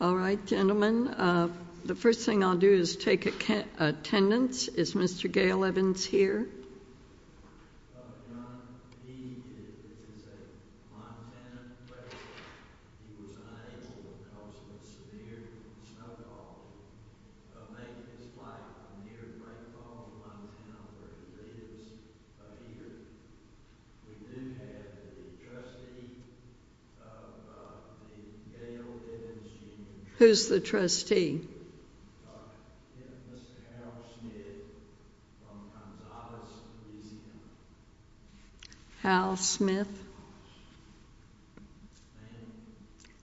All right, gentlemen, the first thing I'll do is take attendance. Is Mr. Gale Evans here? Who's the trustee? Who's the trustee? Hal Smith.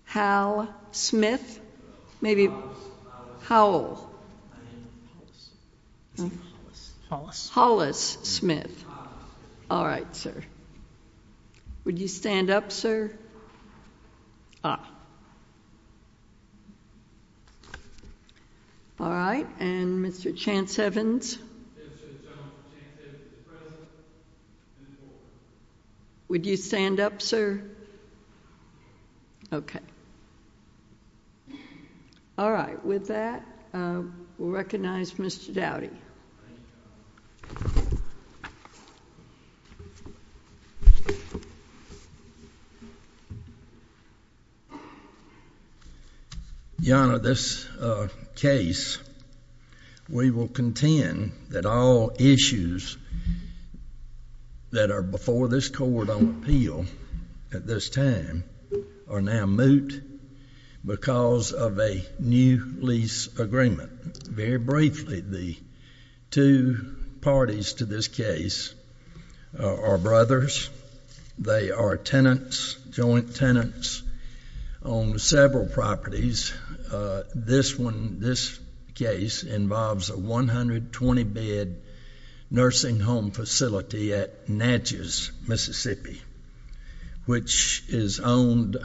Hal Smith. How old? Hollis Smith. All right, sir. Would you stand up, sir? Ah. All right, and Mr. Chance Evans? Would you stand up, sir? Okay. All right, with that, we'll recognize Mr. Dowdy. Thank you. Your Honor, this case, we will contend that all issues that are before this court on appeal at this time are now moot because of a new lease agreement. Very briefly, the two parties to this case are brothers. They are tenants, joint tenants on several properties. This case involves a 120-bed nursing home facility at Natchez, Mississippi, which is owned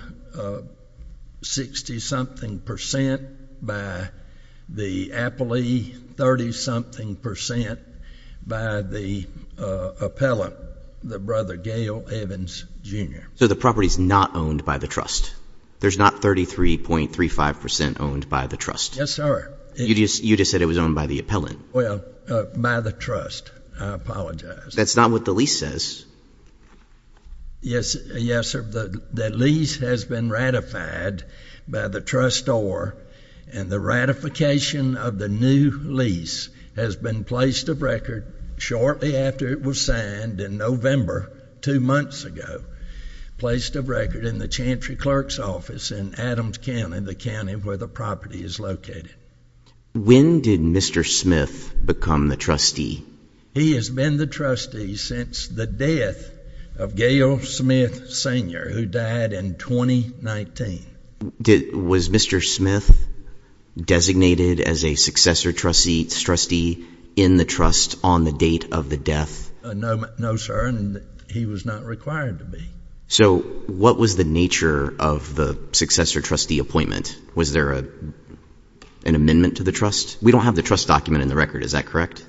60-something percent by the appellee, 30-something percent by the appellant, the brother Gale Evans, Jr. So the property is not owned by the trust. There's not 33.35 percent owned by the trust. Yes, sir. You just said it was owned by the appellant. Well, by the trust. I apologize. That's not what the lease says. Yes, sir. The lease has been ratified by the trustor, and the ratification of the new lease has been placed of record shortly after it was signed in November, two months ago, placed of record in the Chantry Clerk's Office in Adams County, the county where the property is located. When did Mr. Smith become the trustee? He has been the trustee since the death of Gale Smith, Sr., who died in 2019. Was Mr. Smith designated as a successor trustee in the trust on the date of the death? No, sir. He was not required to be. So what was the nature of the successor trustee appointment? Was there an amendment to the trust? We don't have the trust document in the record. Is that correct?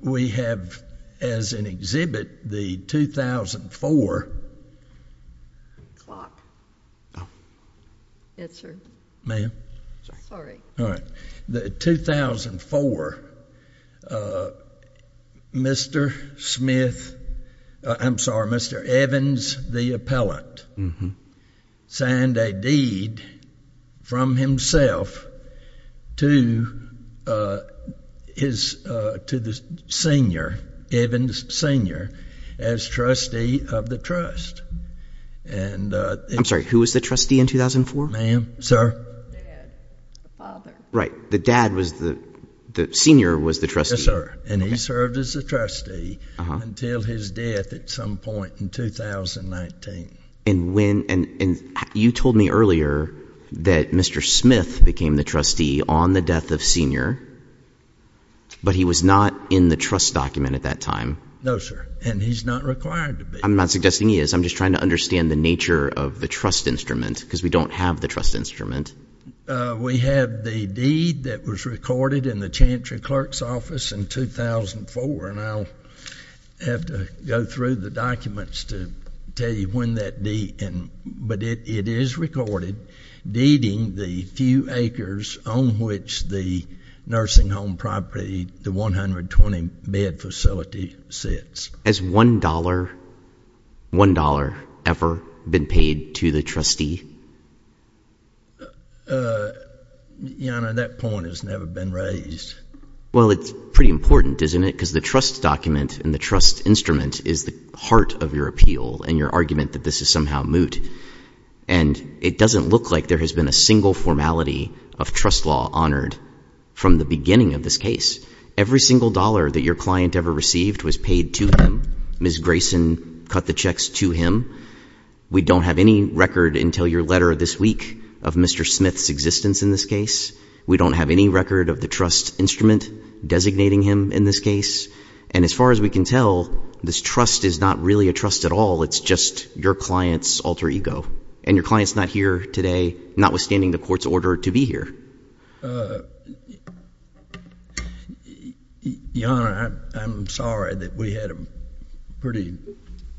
We have, as an exhibit, the 2004. Clock. Yes, sir. Ma'am? Sorry. All right. In 2004, Mr. Smith, I'm sorry, Mr. Evans, the appellant, signed a deed from himself to the senior, Evans, Sr., as trustee of the trust. I'm sorry. Who was the trustee in 2004? Ma'am? Sir? The dad. The father. The dad was the senior was the trustee. Yes, sir. And he served as a trustee until his death at some point in 2019. And you told me earlier that Mr. Smith became the trustee on the death of Sr., but he was not in the trust document at that time. No, sir. And he's not required to be. I'm not suggesting he is. I'm just trying to understand the nature of the trust instrument because we don't have the trust instrument. We have the deed that was recorded in the chancery clerk's office in 2004, and I'll have to go through the documents to tell you when that deed, but it is recorded, deeding the few acres on which the nursing home property, the 120-bed facility, sits. Has $1 ever been paid to the trustee? Your Honor, that point has never been raised. Well, it's pretty important, isn't it? Because the trust document and the trust instrument is the heart of your appeal and your argument that this is somehow moot. And it doesn't look like there has been a single formality of trust law honored from the beginning of this case. Every single dollar that your client ever received was paid to him. Ms. Grayson cut the checks to him. We don't have any record until your letter this week of Mr. Smith's existence in this case. We don't have any record of the trust instrument designating him in this case. And as far as we can tell, this trust is not really a trust at all. It's just your client's alter ego. And your client's not here today, notwithstanding the court's order to be here. Your Honor, I'm sorry that we had a pretty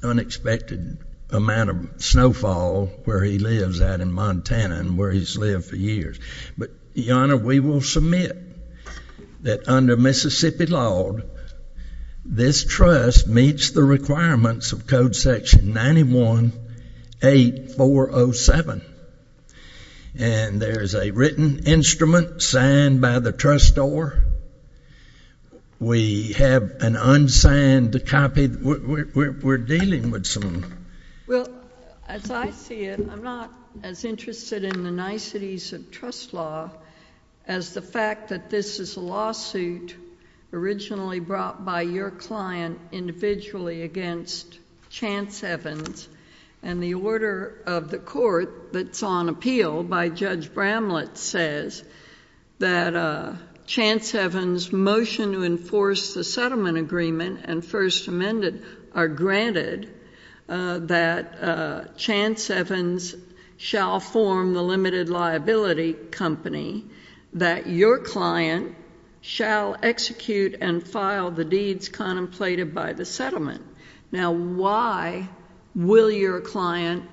unexpected amount of snowfall where he lives out in Montana and where he's lived for years. But, Your Honor, we will submit that under Mississippi law, this trust meets the requirements of Code Section 918407. And there is a written instrument signed by the trustor. We have an unsigned copy. We're dealing with some. Well, as I see it, I'm not as interested in the niceties of trust law as the fact that this is a lawsuit originally brought by your client individually against Chance Evans. And the order of the court that's on appeal by Judge Bramlett says that Chance Evans' motion to enforce the settlement agreement and First Amendment are granted, that Chance Evans shall form the limited liability company, that your client shall execute and file the deeds contemplated by the settlement. Now, why will your client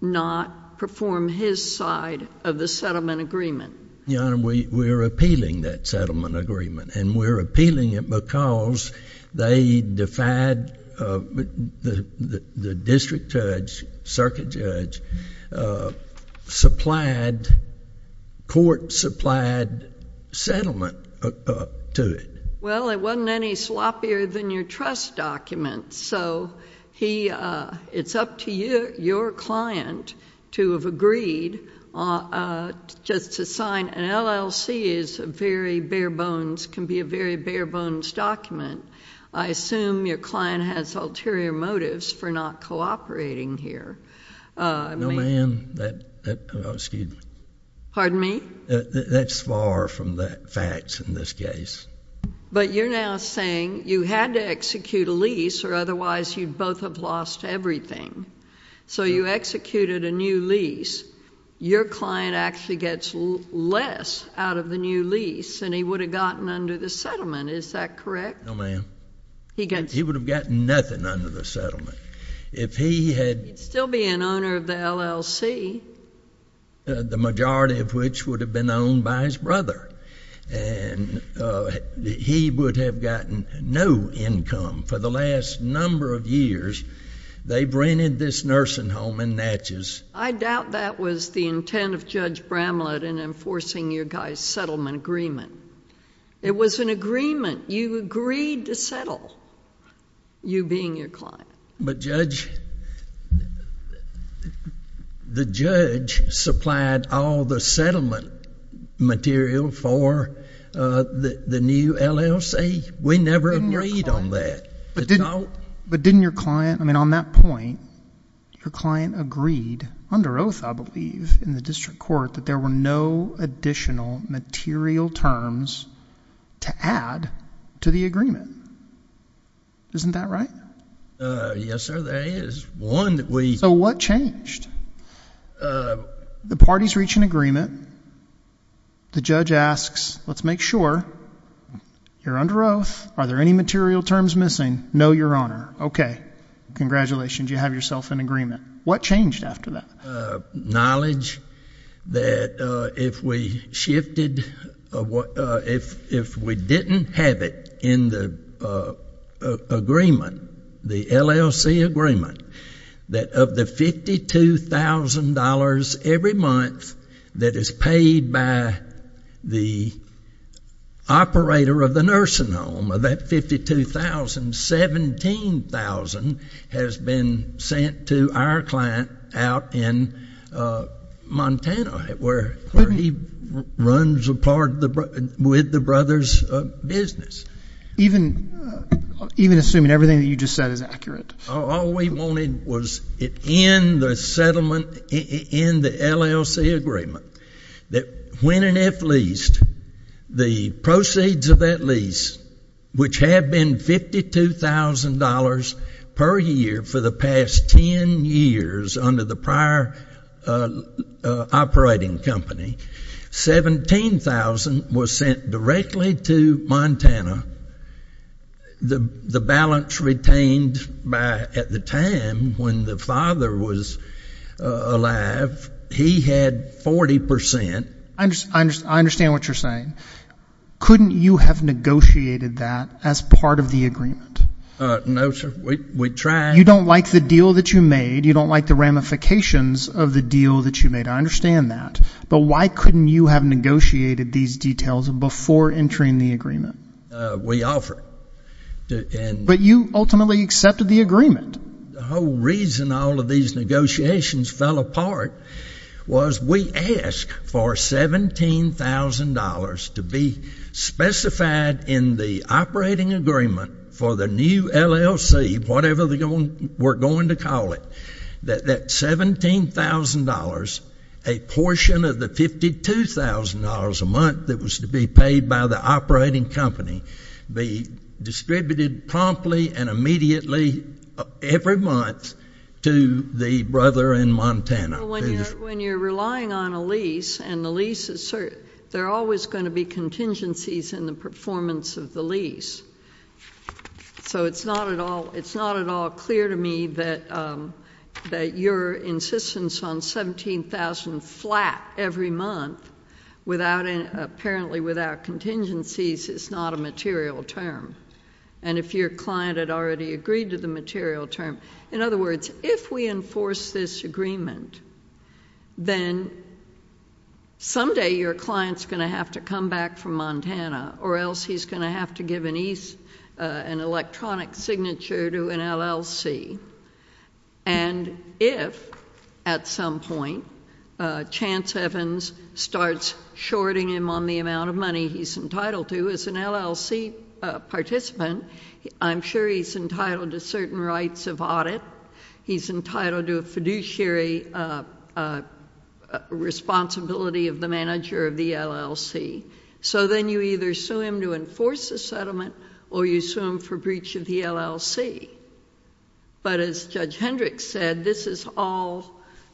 not perform his side of the settlement agreement? Your Honor, we're appealing that settlement agreement. And we're appealing it because they defied the district judge, circuit judge, court-supplied settlement to it. Well, it wasn't any sloppier than your trust document. So it's up to your client to have agreed just to sign. An LLC is very bare bones, can be a very bare bones document. I assume your client has ulterior motives for not cooperating here. No, ma'am. Excuse me. Pardon me? That's far from the facts in this case. But you're now saying you had to execute a lease or otherwise you'd both have lost everything. So you executed a new lease. Your client actually gets less out of the new lease than he would have gotten under the settlement. Is that correct? No, ma'am. He would have gotten nothing under the settlement. He'd still be an owner of the LLC. The majority of which would have been owned by his brother. And he would have gotten no income. For the last number of years, they've rented this nursing home in Natchez. I doubt that was the intent of Judge Bramlett in enforcing your guy's settlement agreement. It was an agreement. You agreed to settle, you being your client. But Judge, the judge supplied all the settlement material for the new LLC. We never agreed on that. But didn't your client, I mean on that point, your client agreed, under oath I believe, in the district court, that there were no additional material terms to add to the agreement. Isn't that right? Yes, sir. There is one that we So what changed? The parties reach an agreement. The judge asks, let's make sure. You're under oath. Are there any material terms missing? No, Your Honor. Okay. Congratulations. You have yourself an agreement. What changed after that? Knowledge that if we shifted, if we didn't have it in the agreement, the LLC agreement, that of the $52,000 every month that is paid by the operator of the nursing home, that $52,000, $17,000 has been sent to our client out in Montana where he runs a part with the brothers' business. Even assuming everything that you just said is accurate? All we wanted was it in the settlement, in the LLC agreement, that when and if leased, the proceeds of that lease, which have been $52,000 per year for the past ten years under the prior operating company, $17,000 was sent directly to Montana. The balance retained at the time when the father was alive, he had 40%. I understand what you're saying. Couldn't you have negotiated that as part of the agreement? No, sir. We tried. You don't like the deal that you made. You don't like the ramifications of the deal that you made. I understand that. But why couldn't you have negotiated these details before entering the agreement? We offered. But you ultimately accepted the agreement. The whole reason all of these negotiations fell apart was we asked for $17,000 to be specified in the operating agreement for the new LLC, whatever we're going to call it, that $17,000, a portion of the $52,000 a month that was to be paid by the operating company, be distributed promptly and immediately every month to the brother in Montana. When you're relying on a lease and the lease is certain, there are always going to be contingencies in the performance of the lease. So it's not at all clear to me that your insistence on $17,000 flat every month, apparently without contingencies, is not a material term, and if your client had already agreed to the material term. In other words, if we enforce this agreement, then someday your client is going to have to come back from Montana or else he's going to have to give an electronic signature to an LLC. And if at some point Chance Evans starts shorting him on the amount of money he's entitled to, as an LLC participant, I'm sure he's entitled to certain rights of audit. He's entitled to a fiduciary responsibility of the manager of the LLC. So then you either sue him to enforce the settlement or you sue him for breach of the LLC. But as Judge Hendricks said, this is all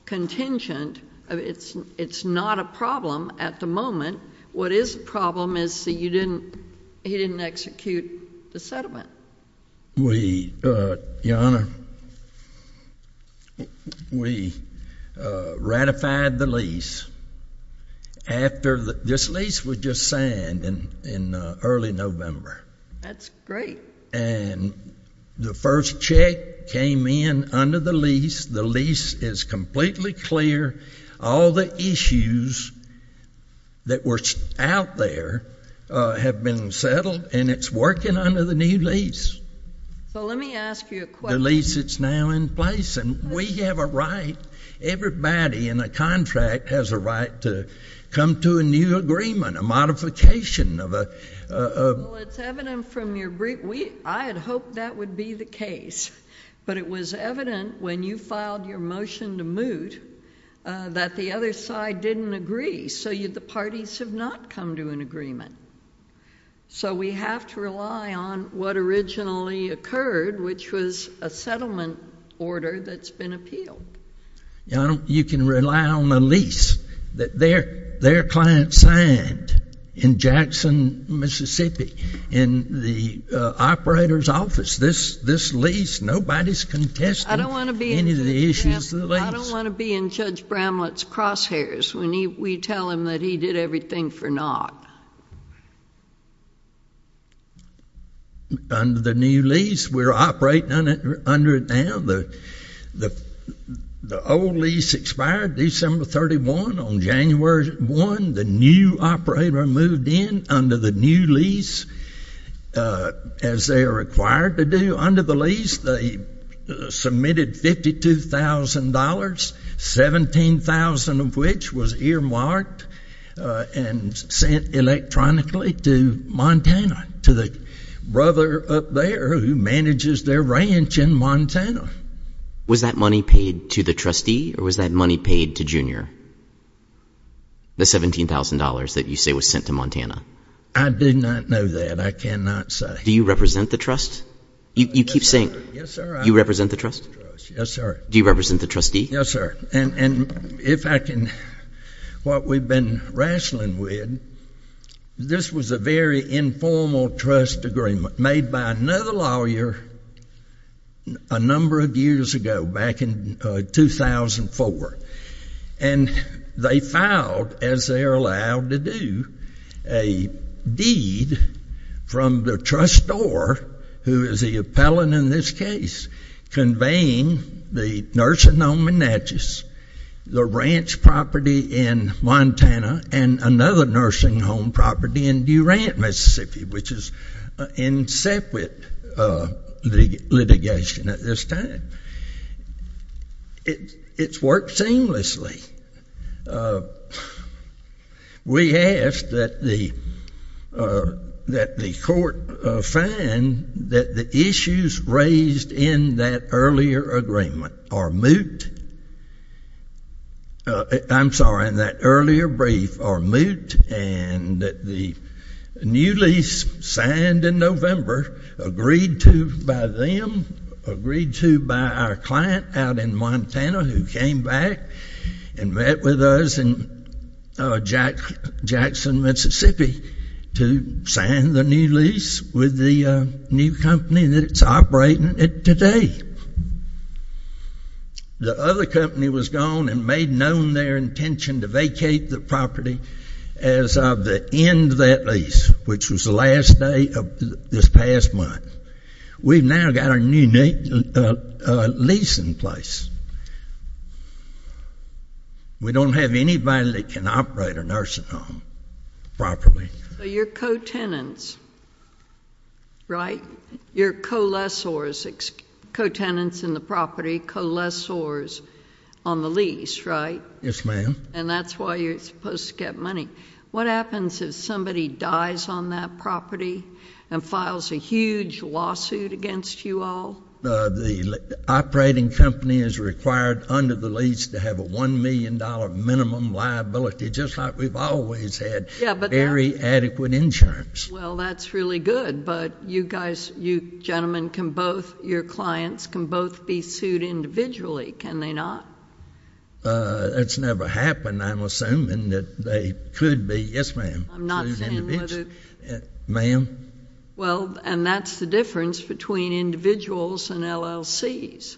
contingent. It's not a problem at the moment. What is a problem is that he didn't execute the settlement. Your Honor, we ratified the lease. This lease was just signed in early November. That's great. And the first check came in under the lease. The lease is completely clear. All the issues that were out there have been settled, and it's working under the new lease. So let me ask you a question. The lease is now in place, and we have a right. Everybody in a contract has a right to come to a new agreement, a modification of a— Well, it's evident from your brief—I had hoped that would be the case. But it was evident when you filed your motion to moot that the other side didn't agree, so the parties have not come to an agreement. So we have to rely on what originally occurred, which was a settlement order that's been appealed. Your Honor, you can rely on the lease that their client signed in Jackson, Mississippi, in the operator's office. This lease, nobody's contesting any of the issues of the lease. I don't want to be in Judge Bramlett's crosshairs when we tell him that he did everything for naught. Under the new lease, we're operating under it now. The old lease expired December 31. On January 1, the new operator moved in under the new lease, as they are required to do. Under the lease, they submitted $52,000, 17,000 of which was earmarked and sent electronically to Montana, to the brother up there who manages their ranch in Montana. Was that money paid to the trustee, or was that money paid to Junior, the $17,000 that you say was sent to Montana? I do not know that. I cannot say. Do you represent the trust? You keep saying, you represent the trust? Yes, sir. Do you represent the trustee? Yes, sir. And if I can, what we've been wrestling with, this was a very informal trust agreement made by another lawyer a number of years ago, back in 2004. And they filed, as they are allowed to do, a deed from the trustor, who is the appellant in this case, conveying the nursing home in Natchez, the ranch property in Montana, and another nursing home property in Durant, Mississippi, which is in separate litigation at this time. It's worked seamlessly. We asked that the court find that the issues raised in that earlier agreement are moot. I'm sorry, in that earlier brief are moot, and that the new lease signed in November, agreed to by them, agreed to by our client out in Montana, who came back and met with us in Jackson, Mississippi, to sign the new lease with the new company that is operating it today. The other company was gone and made known their intention to vacate the property as of the end of that lease, which was the last day of this past month. We've now got our new lease in place. We don't have anybody that can operate a nursing home properly. So you're co-tenants, right? You're co-lessors, co-tenants in the property, co-lessors on the lease, right? Yes, ma'am. And that's why you're supposed to get money. What happens if somebody dies on that property and files a huge lawsuit against you all? The operating company is required under the lease to have a $1 million minimum liability, just like we've always had, very adequate insurance. Well, that's really good, but you guys, you gentlemen can both, your clients can both be sued individually, can they not? That's never happened. I'm assuming that they could be, yes, ma'am, sued individually. I'm not saying whether. Ma'am? Well, and that's the difference between individuals and LLCs.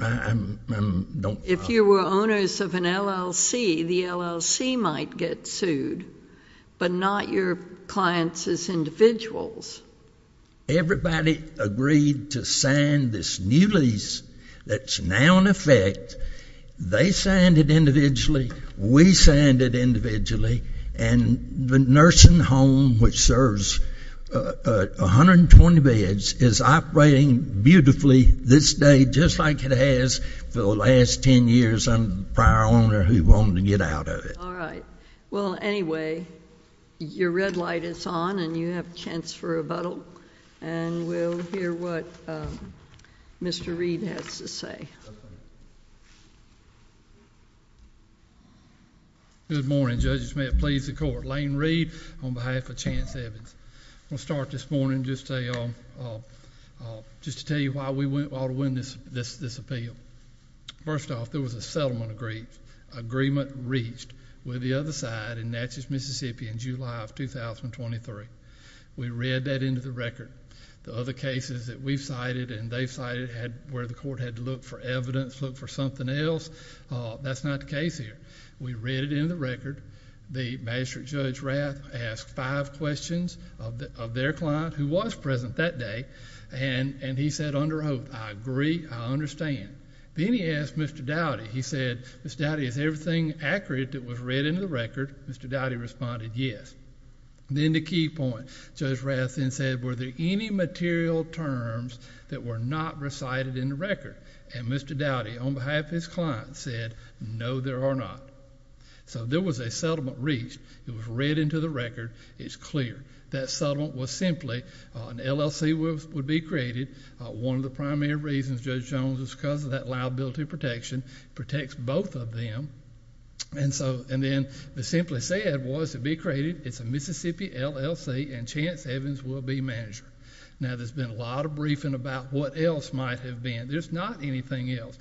I'm, I'm, don't. If you were owners of an LLC, the LLC might get sued, but not your clients as individuals. Everybody agreed to sign this new lease that's now in effect. They signed it individually. We signed it individually. And the nursing home, which serves 120 beds, is operating beautifully this day, just like it has for the last 10 years. I'm the prior owner who wanted to get out of it. All right. Well, anyway, your red light is on and you have a chance for rebuttal. And we'll hear what Mr. Reed has to say. Good morning, judges. May it please the court. Lane Reed on behalf of Chance Evans. I'm going to start this morning just to tell you why we ought to win this appeal. First off, there was a settlement agreement reached with the other side in Natchez, Mississippi, in July of 2023. We read that into the record. The other cases that we've cited and they've cited where the court had to look for evidence, look for something else, that's not the case here. We read it into the record. The magistrate, Judge Rath, asked five questions of their client, who was present that day, and he said under oath, I agree, I understand. Then he asked Mr. Dowdy, he said, Mr. Dowdy, is everything accurate that was read into the record? Mr. Dowdy responded, yes. Then the key point, Judge Rath then said, were there any material terms that were not recited in the record? And Mr. Dowdy, on behalf of his client, said, no, there are not. So there was a settlement reached. It was read into the record. It's clear. That settlement was simply an LLC would be created. One of the primary reasons, Judge Jones, is because of that liability protection protects both of them. And then they simply said it was to be created. It's a Mississippi LLC, and Chance Evans will be manager. Now, there's been a lot of briefing about what else might have been. There's not anything else.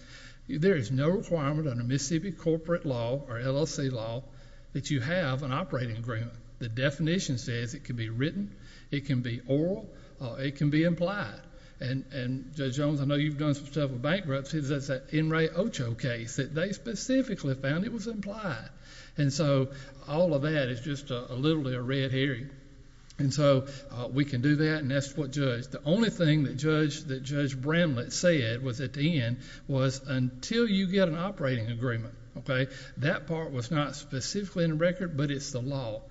There is no requirement under Mississippi corporate law or LLC law that you have an operating agreement. The definition says it can be written, it can be oral, or it can be implied. And, Judge Jones, I know you've done some stuff with bankruptcy. That's that N. Ray Ocho case that they specifically found it was implied. And so all of that is just literally a red herring. And so we can do that, and that's what Judge... The only thing that Judge Bramlett said was at the end was until you get an operating agreement, okay, that part was not specifically in the record, but it's the law.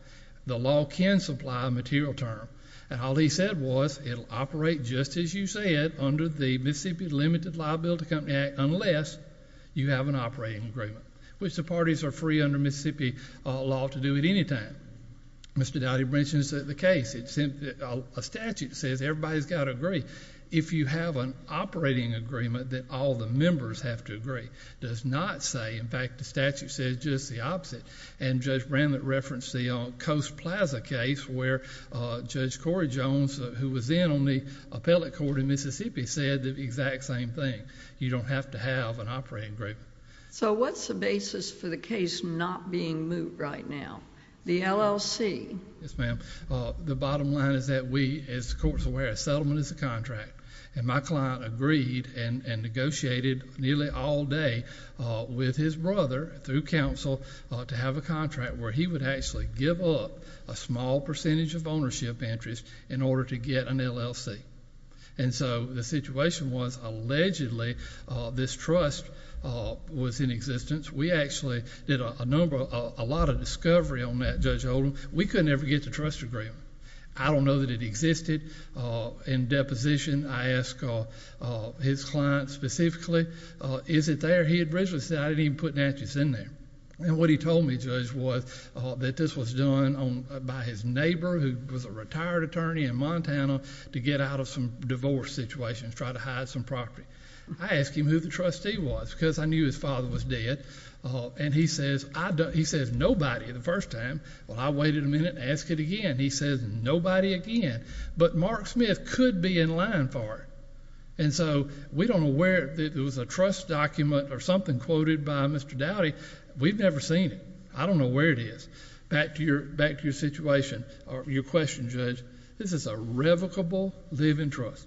The law can supply a material term. And all he said was it will operate just as you say it under the Mississippi Limited Liability Company Act unless you have an operating agreement, which the parties are free under Mississippi law to do at any time. Mr. Dowdy mentions the case. A statute says everybody's got to agree. If you have an operating agreement, then all the members have to agree. It does not say, in fact, the statute says just the opposite. And Judge Bramlett referenced the Coast Plaza case where Judge Corey Jones, who was then on the appellate court in Mississippi, said the exact same thing. You don't have to have an operating agreement. So what's the basis for the case not being moved right now, the LLC? Yes, ma'am. The bottom line is that we, as the court is aware, a settlement is a contract. And my client agreed and negotiated nearly all day with his brother through counsel to have a contract where he would actually give up a small percentage of ownership interest in order to get an LLC. And so the situation was allegedly this trust was in existence. We actually did a lot of discovery on that, Judge Oldham. We couldn't ever get the trust agreement. I don't know that it existed in deposition. I asked his client specifically, is it there? He had originally said, I didn't even put matches in there. And what he told me, Judge, was that this was done by his neighbor, who was a retired attorney in Montana, to get out of some divorce situations, try to hide some property. I asked him who the trustee was because I knew his father was dead. And he says nobody the first time. Well, I waited a minute and asked it again. He says nobody again. But Mark Smith could be in line for it. And so we don't know where it is. It was a trust document or something quoted by Mr. Dowdy. We've never seen it. I don't know where it is. Back to your situation or your question, Judge. This is a revocable live-in trust.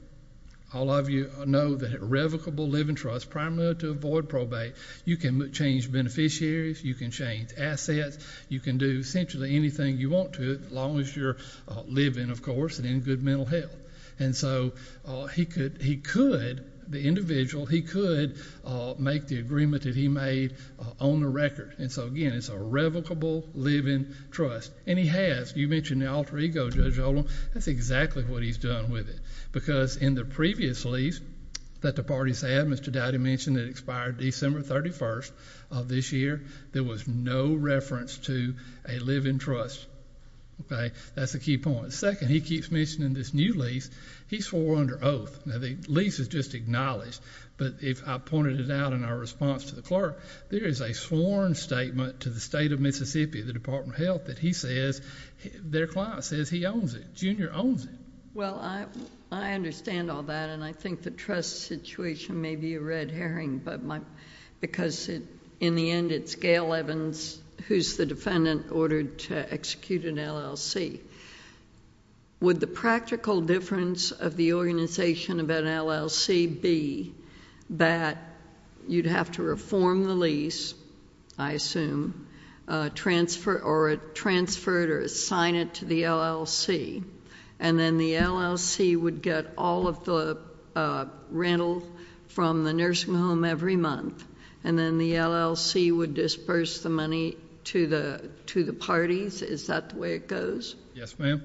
All of you know that a revocable live-in trust, primarily to avoid probate, you can change beneficiaries. You can change assets. You can do essentially anything you want to as long as you're living, of course, and in good mental health. And so he could, the individual, he could make the agreement that he made on the record. And so, again, it's a revocable live-in trust. And he has. You mentioned the alter ego, Judge Oldham. That's exactly what he's done with it because in the previous lease that the parties had, Mr. Dowdy mentioned it expired December 31st of this year. There was no reference to a live-in trust. That's a key point. Second, he keeps mentioning this new lease. He swore under oath. Now, the lease is just acknowledged. But if I pointed it out in our response to the clerk, there is a sworn statement to the state of Mississippi, the Department of Health, that he says their client says he owns it, Junior owns it. Well, I understand all that. And I think the trust situation may be a red herring because, in the end, it's Gail Evans, who's the defendant, ordered to execute an LLC. Would the practical difference of the organization of an LLC be that you'd have to reform the lease, I assume, or transfer it or assign it to the LLC, and then the LLC would get all of the rental from the nursing home every month, and then the LLC would disburse the money to the parties? Is that the way it goes? Yes, ma'am.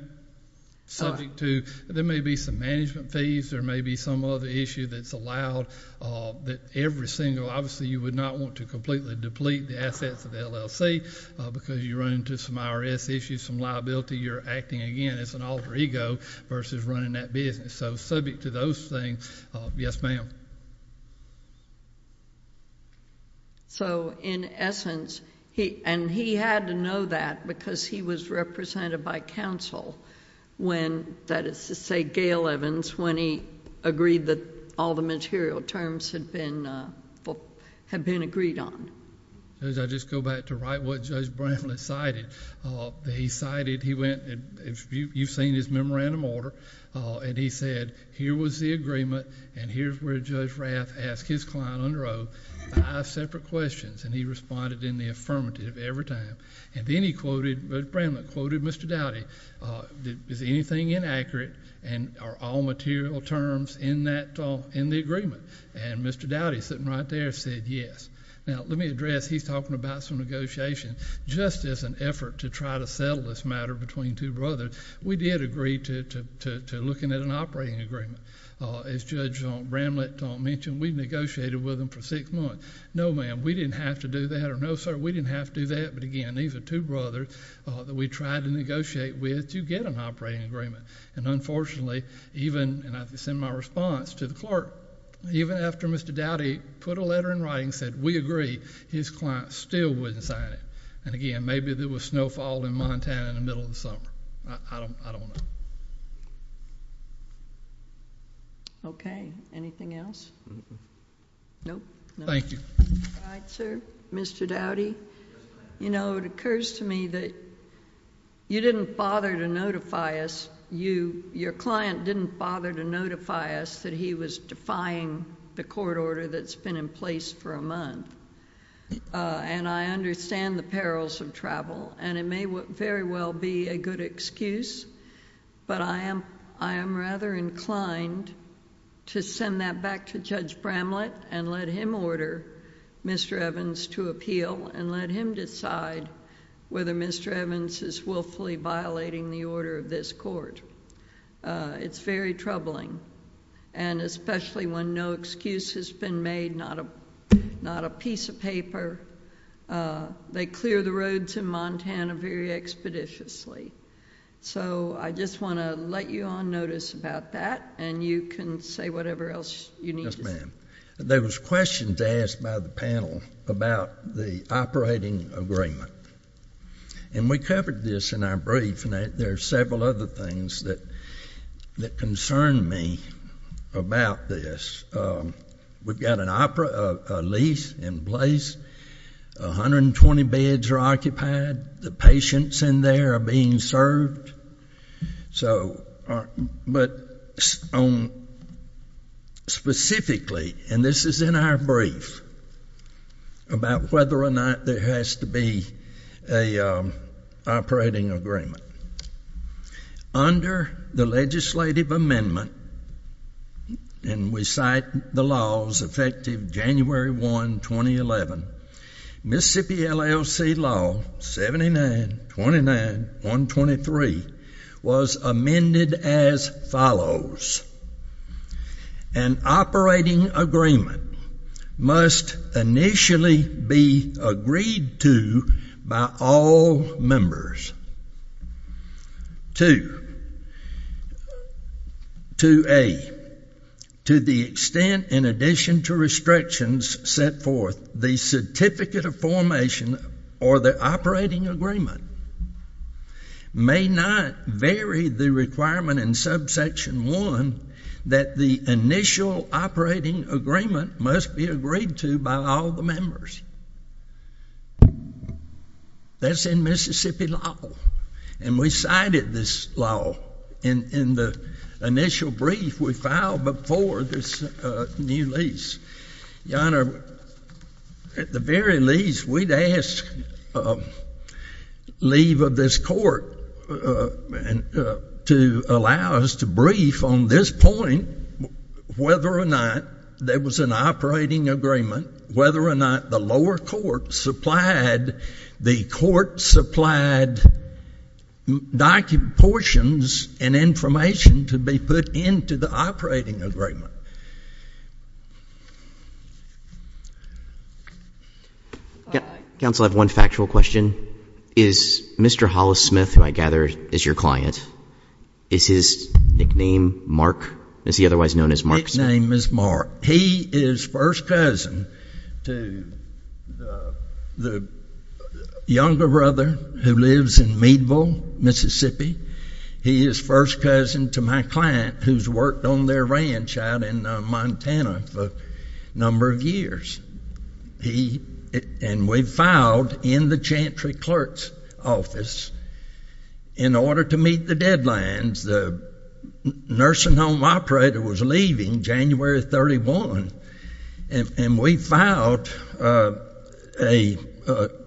Subject to there may be some management fees. There may be some other issue that's allowed that every single, obviously, you would not want to completely deplete the assets of the LLC because you run into some IRS issues, some liability. You're acting, again, as an alter ego versus running that business. So subject to those things, yes, ma'am. So, in essence, and he had to know that because he was represented by counsel, that is to say, Gail Evans, when he agreed that all the material terms had been agreed on. As I just go back to write what Judge Bramlett cited, he cited, he went, you've seen his memorandum order, and he said, here was the agreement and here's where Judge Rath asked his client under oath five separate questions, and he responded in the affirmative every time. And then he quoted, Judge Bramlett quoted Mr. Doughty, is anything inaccurate, and are all material terms in the agreement? And Mr. Doughty, sitting right there, said yes. Now, let me address, he's talking about some negotiation. Just as an effort to try to settle this matter between two brothers, we did agree to looking at an operating agreement. As Judge Bramlett mentioned, we negotiated with him for six months. No, ma'am, we didn't have to do that. Or no, sir, we didn't have to do that. But again, these are two brothers that we tried to negotiate with to get an operating agreement. And unfortunately, even, and this is in my response to the clerk, even after Mr. Doughty put a letter in writing and said we agree, his client still wouldn't sign it. And again, maybe there was snowfall in Montana in the middle of the summer. I don't know. Okay. Anything else? No. Thank you. All right, sir. Mr. Doughty. You know, it occurs to me that you didn't bother to notify us, your client didn't bother to notify us that he was defying the court order that's been in place for a month. And I understand the perils of travel, and it may very well be a good excuse, but I am rather inclined to send that back to Judge Bramlett and let him order Mr. Evans to appeal and let him decide whether Mr. Evans is willfully violating the order of this court. It's very troubling, and especially when no excuse has been made, not a piece of paper. They clear the roads in Montana very expeditiously. So I just want to let you on notice about that, and you can say whatever else you need to say. Yes, ma'am. There was a question to ask by the panel about the operating agreement, and we covered this in our brief, and there are several other things that concern me about this. We've got a lease in place. 120 beds are occupied. The patients in there are being served. But specifically, and this is in our brief, about whether or not there has to be an operating agreement. Under the legislative amendment, and we cite the laws effective January 1, 2011, Mississippi LLC Law 7929.123 was amended as follows. An operating agreement must initially be agreed to by all members to A, to the extent in addition to restrictions set forth the certificate of formation or the operating agreement may not vary the requirement in subsection 1 that the initial operating agreement must be agreed to by all the members. That's in Mississippi law, and we cited this law in the initial brief we filed before this new lease. Your Honor, at the very least, we'd ask leave of this court to allow us to brief on this point, whether or not there was an operating agreement, whether or not the lower court supplied, the court supplied portions and information to be put into the operating agreement. Counsel, I have one factual question. Is Mr. Hollis Smith, who I gather is your client, is his nickname Mark? Is he otherwise known as Mark? Nickname is Mark. He is first cousin to the younger brother who lives in Meadville, Mississippi. He is first cousin to my client who's worked on their ranch out in Montana for a number of years. And we filed in the Chantry clerk's office in order to meet the deadlines. The nursing home operator was leaving January 31, and we filed a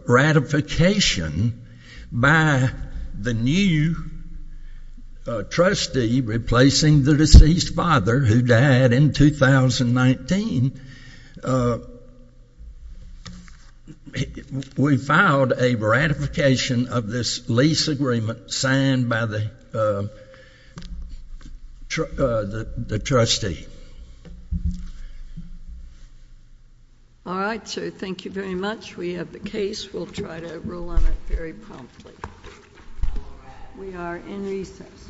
ratification by the new trustee replacing the deceased father who died in 2019. We filed a ratification of this lease agreement signed by the trustee. All right, sir. Thank you very much. We have the case. We'll try to rule on it very promptly. We are in recess.